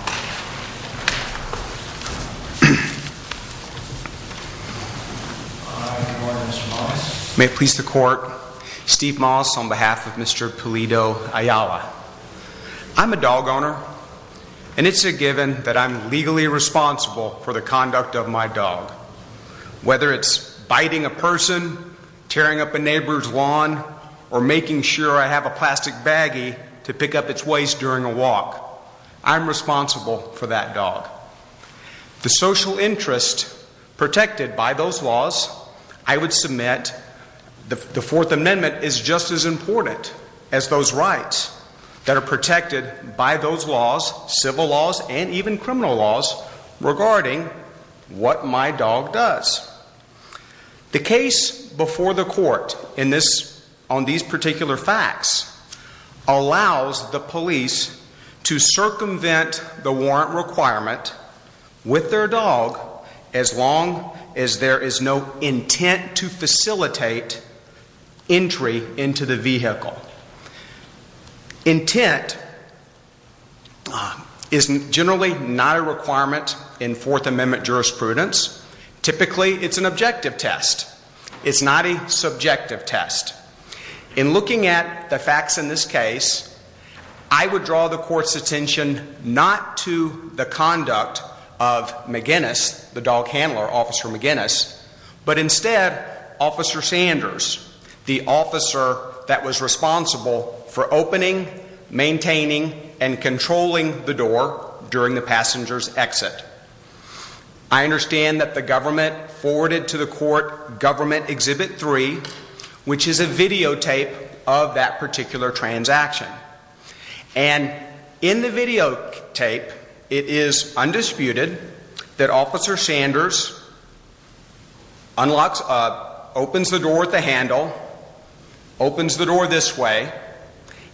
I'm a dog owner, and it's a given that I'm legally responsible for the conduct of my dog. Whether it's biting a person, tearing up a neighbor's lawn, or making sure I have a plastic baggie to pick up its waste during a walk, I'm responsible for that dog. The social interest protected by those laws, I would submit the Fourth Amendment is just as important as those rights that are protected by those laws, civil laws, and even criminal laws regarding what my dog does. The case before the court on these particular facts allows the police to circumvent the warrant requirement with their dog as long as there is no intent to facilitate entry into the vehicle. Intent is generally not a requirement in Fourth Amendment jurisprudence. Typically, it's an objective test. It's not a subjective test. In looking at the facts in this case, I would draw the court's attention not to the conduct of McGinnis, the dog handler, Officer McGinnis, but instead Officer Sanders, the officer that was responsible for opening, maintaining, and controlling the door during the passenger's exit. I understand that the government forwarded to the court Government Exhibit 3, which is a videotape of that particular transaction. And in the videotape, it is undisputed that Officer Sanders unlocks, opens the door at the handle, opens the door this way,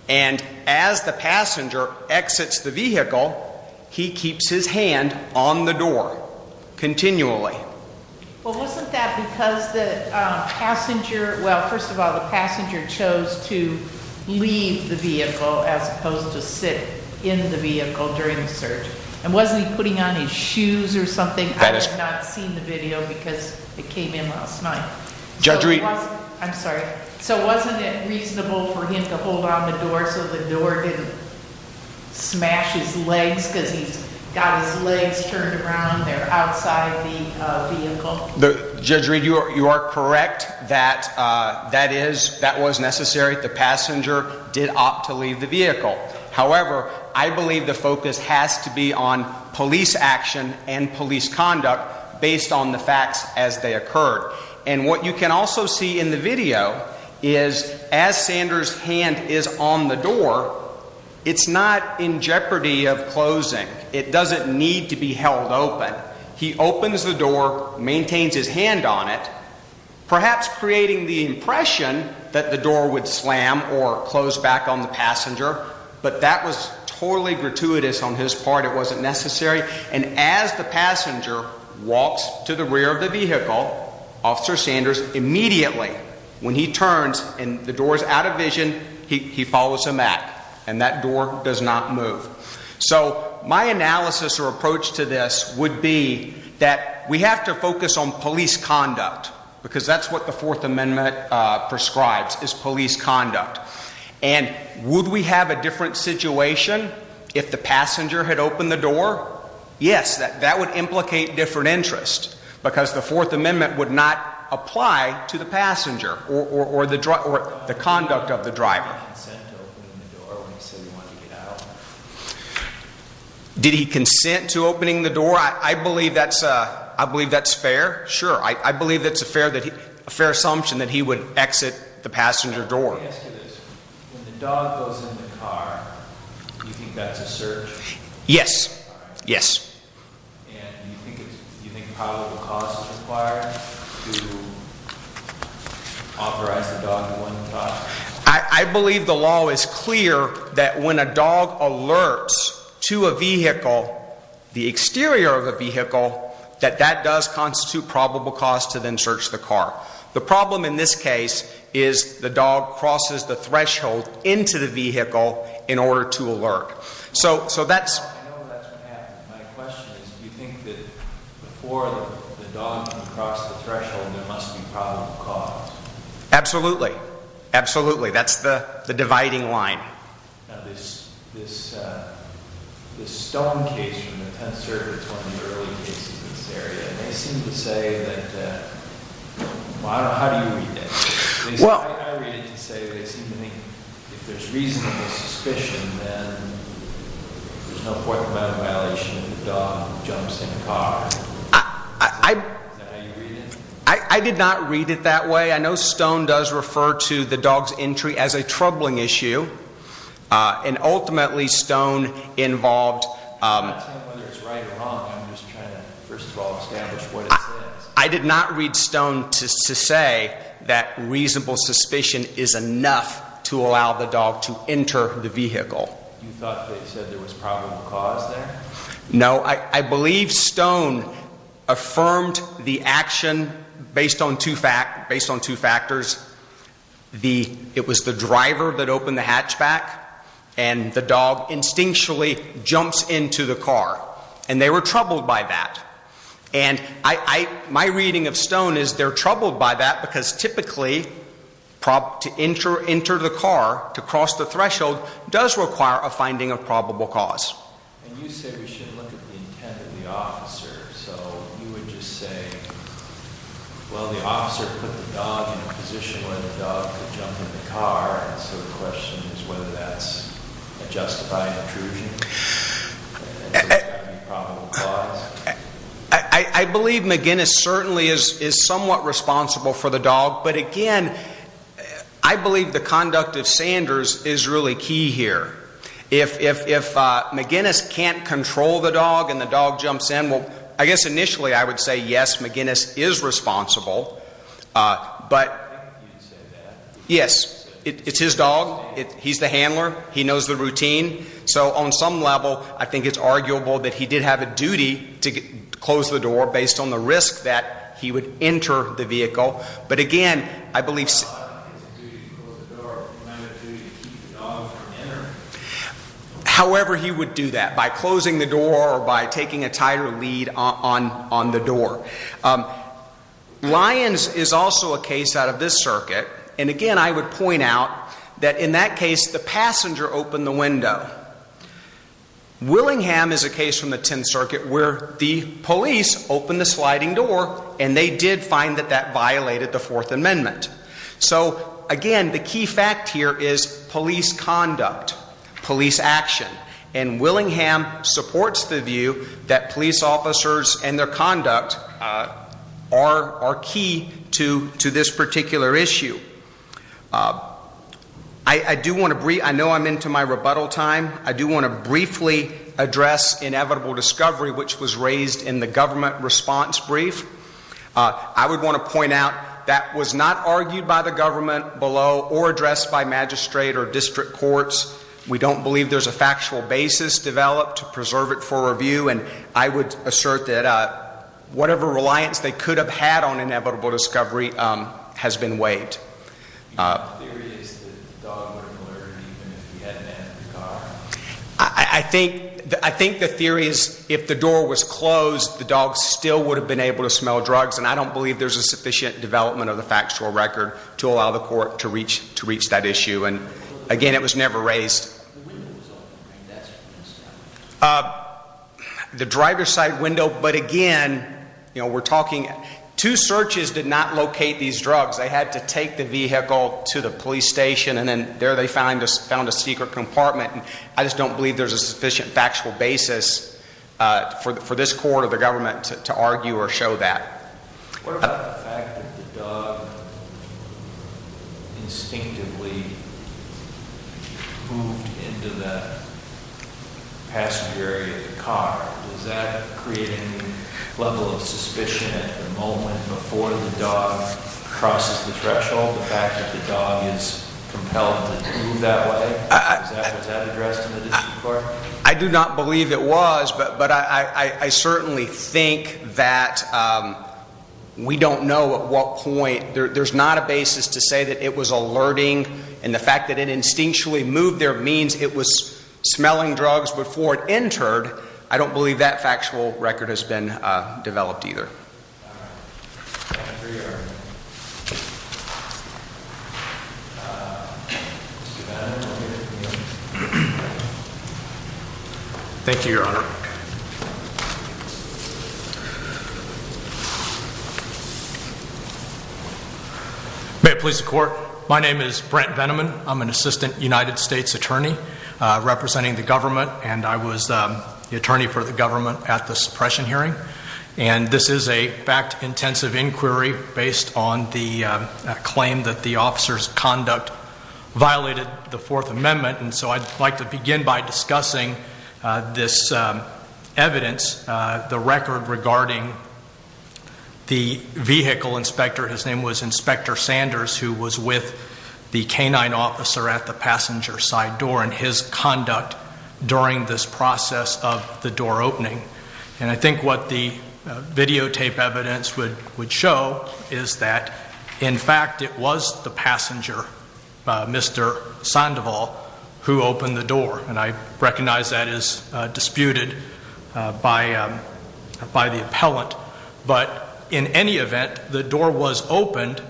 and as the passenger exits the vehicle, he keeps his hand on the door continually. Well, wasn't that because the passenger, well, first of all, the passenger chose to leave the vehicle as opposed to sit in the vehicle during the search? And wasn't he putting on his shoes or something? I have not seen the video because it came in last night. Judge Reed. I'm sorry. So, wasn't it reasonable for him to hold on the door so the door didn't smash his legs because he's turned around there outside the vehicle? Judge Reed, you are correct that that is, that was necessary. The passenger did opt to leave the vehicle. However, I believe the focus has to be on police action and police conduct based on the facts as they occurred. And what you can also see in the video is as Sanders' hand is on the door, it's not in jeopardy of closing. It doesn't need to be held open. He opens the door, maintains his hand on it, perhaps creating the impression that the door would slam or close back on the passenger. But that was totally gratuitous on his part. It wasn't necessary. And as the passenger walks to the rear of the vehicle, Officer Sanders immediately, when he turns and the door is out of vision, he follows him back. And that door does not move. So, my analysis or approach to this would be that we have to focus on police conduct because that's what the Fourth Amendment prescribes is police conduct. And would we have a different situation if the passenger had opened the door? Yes, that would implicate different interests because the Fourth Amendment would not apply to the passenger or the conduct of the driver. Did he consent to opening the door? I believe that's fair. Sure. I believe that's a fair assumption that he would exit the passenger door. Let me ask you this. When the dog goes in the car, do you think that's a search? Yes. Yes. And do you think probable cause is required to authorize the dog to go in the car? I believe the law is clear that when a dog alerts to a vehicle, the exterior of a vehicle, that that does constitute probable cause to then search the car. The problem in this case is the dog crosses the threshold. I know that's what happened. My question is, do you think that before the dog can cross the threshold, there must be probable cause? Absolutely. Absolutely. That's the dividing line. Now, this Stone case from the 10th Circuit is one of the early cases in this area. And they seem to say that, well, I don't know, how do you read that? I read it to say they seem to think if there's reasonable suspicion, then there's no point of violation if the dog jumps in the car. Is that how you read it? I did not read it that way. I know Stone does refer to the dog's entry as a troubling issue. And ultimately, Stone involved... I'm not saying whether it's right or wrong. I'm just trying to, first of all, establish what it says. I did not read Stone to say that reasonable suspicion is enough to allow the dog to enter the vehicle. You thought they said there was probable cause there? No. I believe Stone affirmed the action based on two factors. It was the driver that opened the hatchback. And the dog instinctually jumps into the car. And they were troubled by that. And my reading of Stone is they're troubled by that because typically, to enter the car, to cross the threshold, does require a finding of probable cause. And you said we should look at the intent of the officer. So you would just say, well, the officer put the dog in a position where the dog could jump in the car. So the question is whether that's a justified intrusion? I believe McGinnis certainly is somewhat responsible for the dog. But again, I believe the conduct of Sanders is really key here. If McGinnis can't control the dog and the dog jumps in, well, I guess initially I would say, yes, McGinnis is responsible. I think you'd say that. Yes. It's his dog. He's the handler. He knows the routine. So on some level, I think it's arguable that he did have a duty to close the door based on the risk that he would enter the vehicle. But again, I believe... I don't think it's a duty to close the door. It's kind of a duty to keep the dog from entering. However he would do that, by closing the door or by taking a tighter lead on the door. Lyons is also a case out of this circuit. And again, I would point out that in that case, the passenger opened the window. Willingham is a case from the Tenth Circuit where the police opened the sliding door and they did find that that violated the Fourth Amendment. So again, the key fact here is police conduct, police action. And Willingham supports the view that police officers and their conduct are key to this particular issue. I do want to... I know I'm into my rebuttal time. I do want to briefly address inevitable discovery, which was raised in the government response brief. I would want to point out that was not argued by the government below or addressed by magistrate or district courts. We don't believe there's a factual basis developed to preserve it for review. And I would assert that whatever reliance they could have had on inevitable discovery has been waived. I think the theory is if the door was closed, the dog still would have been able to smell drugs. And I don't believe there's a sufficient development of the factual record to allow the court to reach that issue. And again, it was never raised. The driver's side window. But again, you know, we're talking two searches did not locate these drugs. They had to take the vehicle to the police station and then there they found a secret compartment. And I just don't believe there's a sufficient factual basis for this court or the government to argue or show that. What about the fact that the dog instinctively moved into the passenger area of the car? Does that create a level of suspicion at the moment before the dog crosses the threshold? The fact that the dog is compelled to move that way? Was that addressed in the district court? I do not believe it was, but I certainly think that we don't know at what point. There's not a basis to say that it was alerting and the fact that it instinctually moved there means it was smelling drugs before it entered. I don't believe that factual record has been developed either. Thank you, Your Honor. May it please the court. My name is Brent Veneman. I'm an assistant United States attorney representing the government, and I was the attorney for the government at the suppression hearing. And this is a fact-intensive inquiry based on the claim that the officer's conduct violated the Fourth Amendment. And so I'd like to begin by discussing this evidence, the record regarding the vehicle inspector. His name was Inspector Sanders, who was with the canine officer at the passenger side door and his conduct during this process of the door opening. And I think what the videotape evidence would show is that, in fact, it was the passenger, Mr. Sandoval, who opened the door. And I recognize that is disputed by the appellant. But in any event, the door was opened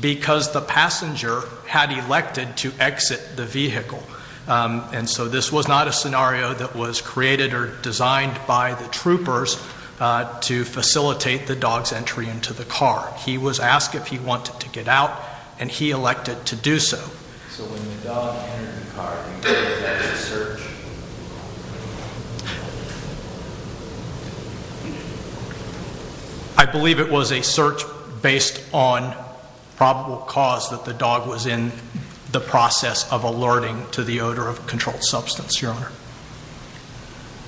because the passenger had elected to exit the vehicle. And so this was not a scenario that was created or designed by the troopers to facilitate the dog's entry into the car. He was asked if he wanted to get out, and he elected to do so. I believe it was a search based on probable cause that the dog was in the process of alerting to the odor of a controlled substance, Your Honor.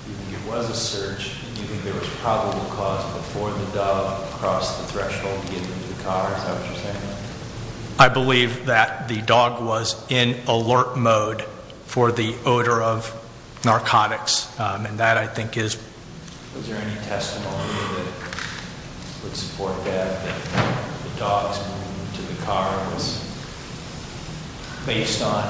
If it was a search, do you think there was probable cause before the dog crossed the threshold to get into the car? Is that what you're saying? I believe that the dog was in alert mode for the odor of narcotics, and that, I think, is... Was there any testimony that would support that, that the dog's move to the car was based on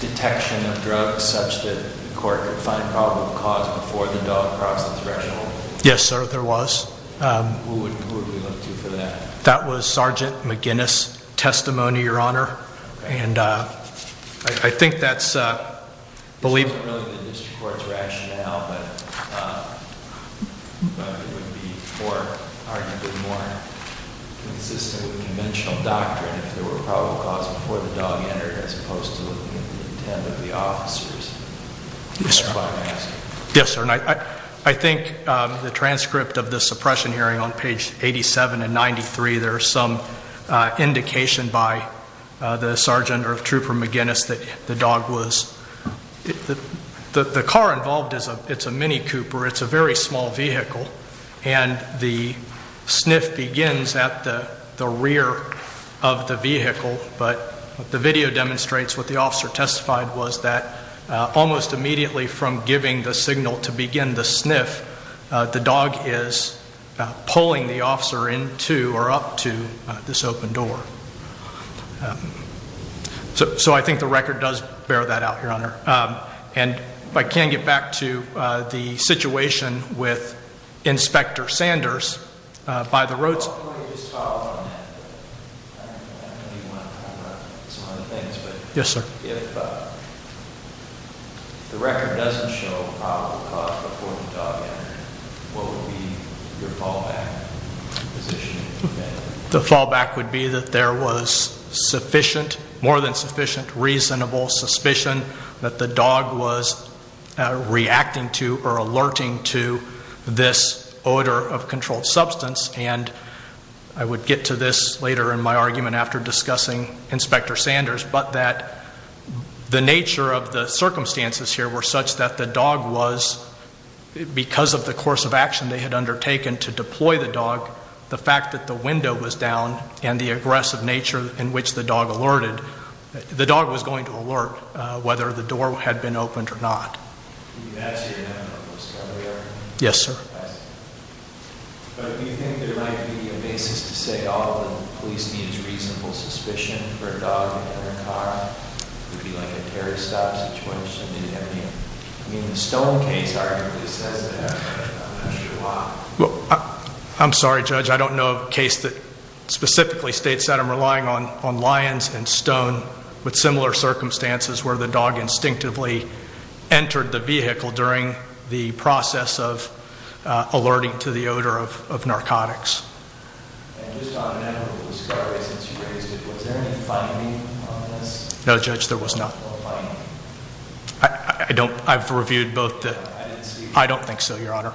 detection of drugs such that the court could find probable cause before the dog crossed the threshold? Yes, sir, there was. Who would we look to for that? That was Sergeant McGinnis' testimony, Your Honor. I think that's... It wasn't really the district court's rationale, but it would be arguably more consistent with conventional doctrine if there were probable cause before the dog entered, as opposed to looking at the intent of the officers. Yes, sir. I think the transcript of the suppression hearing on page 87 and 93, there's some indication by the Sergeant or Trooper McGinnis that the dog was... The car involved is a Mini Cooper. It's a very small vehicle, and the sniff begins at the rear of the vehicle. But the video demonstrates what the officer testified was that almost immediately from giving the signal to begin the sniff, the dog is pulling the officer into or up to this open door. So I think the record does bear that out, Your Honor. And if I can get back to the situation with Inspector Sanders, by the roadside... Can we just follow up on that? I know you want to cover up some other things, but... Yes, sir. If the record doesn't show probable cause before the dog entered, what would be your fallback position? The fallback would be that there was sufficient, more than sufficient, reasonable suspicion that the dog was reacting to or alerting to this odor of controlled substance. And I would get to this later in my argument after discussing Inspector Sanders, but that the nature of the circumstances here were such that the dog was... Because of the course of action they had undertaken to deploy the dog, the fact that the window was down and the aggressive nature in which the dog alerted... The dog was going to alert whether the door had been opened or not. That's your now discovery argument? Yes, sir. But do you think there might be a basis to say all the police need is reasonable suspicion for a dog in a car? It would be like a terrorist-style situation. I mean, the Stone case arguably says that. I'm not sure why. I'm sorry, Judge. I don't know of a case that specifically states that. I'm relying on Lyons and Stone with similar circumstances where the dog instinctively entered the vehicle during the process of alerting to the odor of narcotics. And just on that, with the discoveries that you raised, was there any finding on this? No, Judge, there was not. No finding? I don't... I've reviewed both the... I didn't see... I don't think so, Your Honor.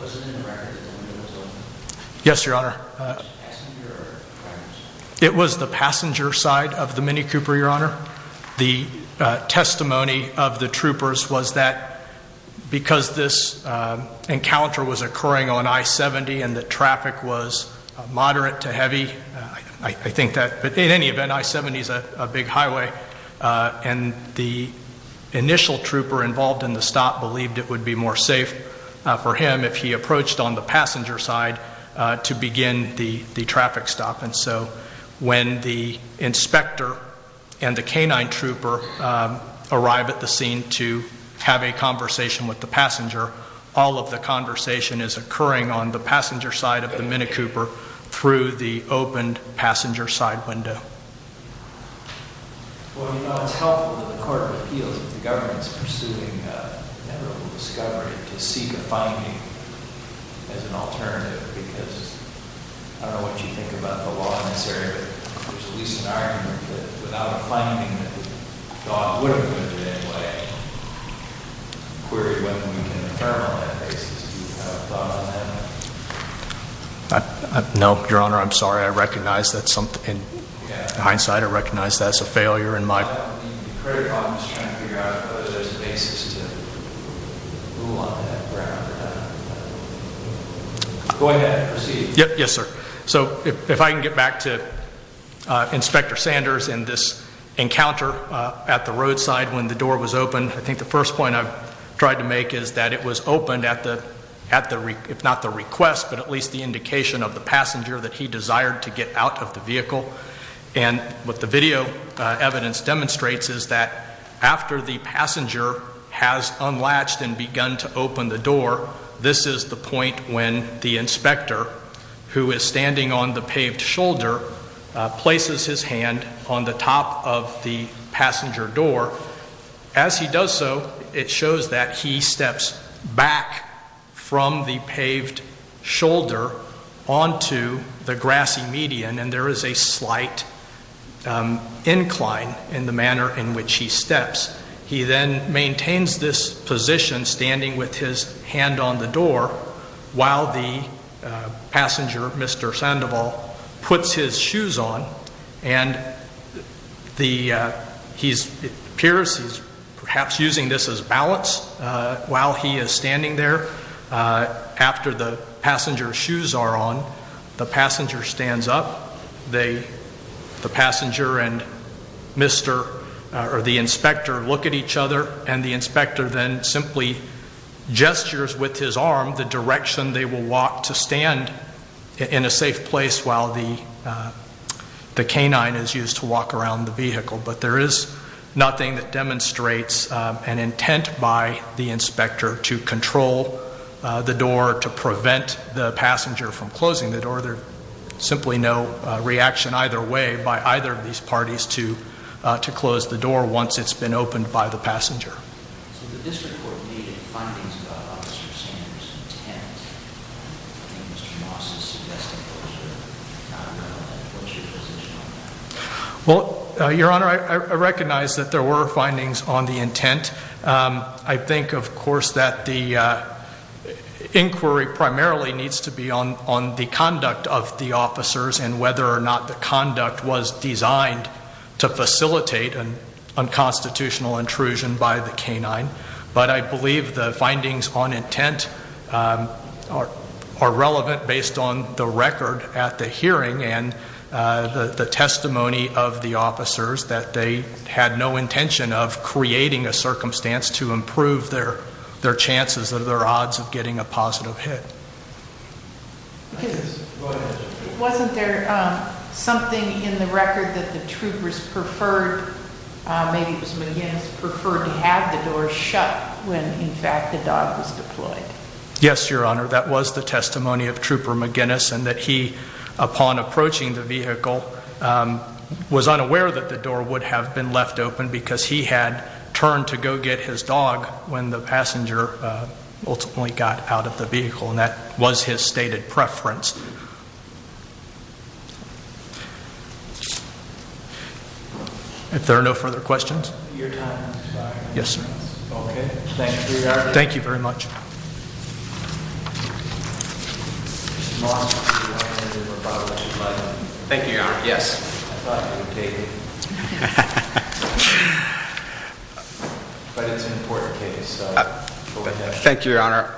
Was it in the record that the window was open? Yes, Your Honor. Passenger or driver's? It was the passenger side of the Mini Cooper, Your Honor. The testimony of the troopers was that because this encounter was occurring on I-70 and the traffic was moderate to heavy, I think that... But in any event, I-70 is a big highway. And the initial trooper involved in the stop believed it would be more safe for him if he approached on the passenger side to begin the traffic stop. And so when the inspector and the canine trooper arrive at the scene to have a conversation with the passenger, all of the conversation is occurring on the passenger side of the Mini Cooper through the opened passenger side window. Well, Your Honor, it's helpful that the Court of Appeals, that the government is pursuing an inevitable discovery to seek a finding as an alternative, because I don't know what you think about the law in this area, but there's at least an argument that without a finding that the dog would have been put in any way, I'm wondering if you could query whether we can infer on that basis. Do you have a thought on that? No, Your Honor. I'm sorry. I recognize that in hindsight, I recognize that as a failure in my... I'm just trying to figure out if there's a basis to rule on that ground. Go ahead and proceed. Yes, sir. So if I can get back to Inspector Sanders and this encounter at the roadside when the door was opened, I think the first point I've tried to make is that it was opened at the, if not the request, but at least the indication of the passenger that he desired to get out of the vehicle. And what the video evidence demonstrates is that after the passenger has unlatched and begun to open the door, this is the point when the inspector, who is standing on the paved shoulder, places his hand on the top of the passenger door. As he does so, it shows that he steps back from the paved shoulder onto the grassy median, and there is a slight incline in the manner in which he steps. He then maintains this position, standing with his hand on the door, while the passenger, Mr. Sandoval, puts his shoes on. And it appears he's perhaps using this as balance while he is standing there. After the passenger's shoes are on, the passenger stands up. The passenger and Mr. or the inspector look at each other, and the inspector then simply gestures with his arm the direction they will walk to stand in a safe place while the canine is used to walk around the vehicle. But there is nothing that demonstrates an intent by the inspector to control the door, to prevent the passenger from closing the door. There's simply no reaction either way by either of these parties to close the door once it's been opened by the passenger. So the district court made findings about Officer Sanders' intent. I think Mr. Moss is suggesting closure. I don't know what your position on that is. Well, Your Honor, I recognize that there were findings on the intent. I think, of course, that the inquiry primarily needs to be on the conduct of the officers and whether or not the conduct was designed to facilitate an unconstitutional intrusion by the canine. But I believe the findings on intent are relevant based on the record at the hearing and the testimony of the officers that they had no intention of creating a circumstance to improve their chances or their odds of getting a positive hit. Wasn't there something in the record that the troopers preferred, maybe it was McGinnis, preferred to have the door shut when, in fact, the dog was deployed? Yes, Your Honor, that was the testimony of Trooper McGinnis and that he, upon approaching the vehicle, was unaware that the door would have been left open because he had turned to go get his dog when the passenger ultimately got out of the vehicle and that was his stated preference. If there are no further questions. Your time is up. Yes, sir. Okay, thank you, Your Honor. Thank you very much. Thank you, Your Honor. Yes. Thank you, Your Honor.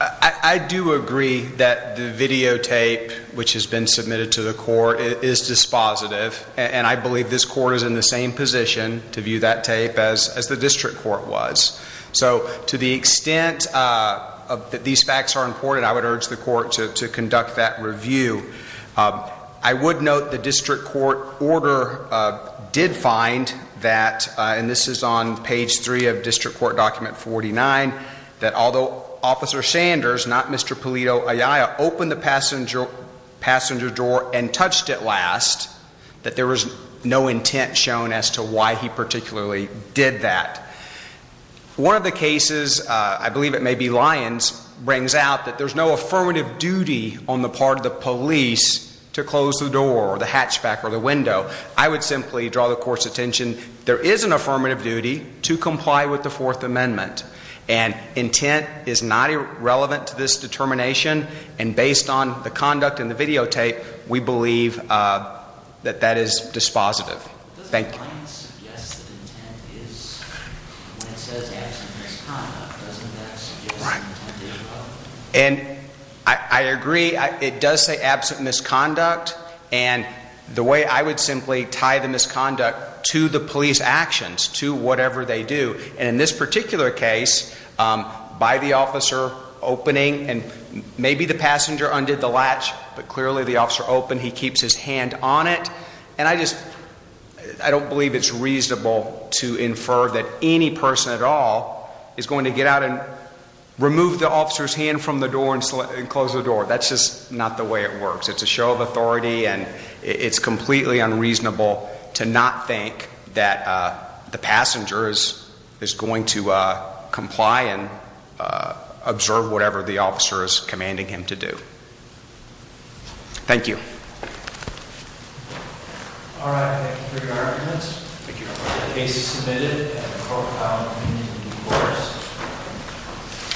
I do agree that the videotape which has been submitted to the court is dispositive and I believe this court is in the same position to view that tape as the district court was. So, to the extent that these facts are important, I would urge the court to conduct that review. I would note the district court order did find that, and this is on page 3 of district court document 49, that although Officer Sanders, not Mr. Polito Ayala, opened the passenger door and touched it last, that there was no intent shown as to why he particularly did that. One of the cases, I believe it may be Lyons, brings out that there's no affirmative duty on the part of the police to close the door or the hatchback or the window. I would simply draw the court's attention, there is an affirmative duty to comply with the Fourth Amendment and intent is not irrelevant to this determination and based on the conduct in the videotape, we believe that that is dispositive. Thank you. It says absent misconduct, doesn't it? Right. And I agree, it does say absent misconduct, and the way I would simply tie the misconduct to the police actions, to whatever they do, and in this particular case, by the officer opening, and maybe the passenger undid the latch, but clearly the officer opened, he keeps his hand on it, and I just don't believe it's reasonable to infer that any person at all is going to get out and remove the officer's hand from the door and close the door. That's just not the way it works. It's a show of authority and it's completely unreasonable to not think that the passenger is going to comply and observe whatever the officer is commanding him to do. Thank you. All right. Thank you for your arguments. Thank you. The case is submitted. I have a profile opinion in the courts.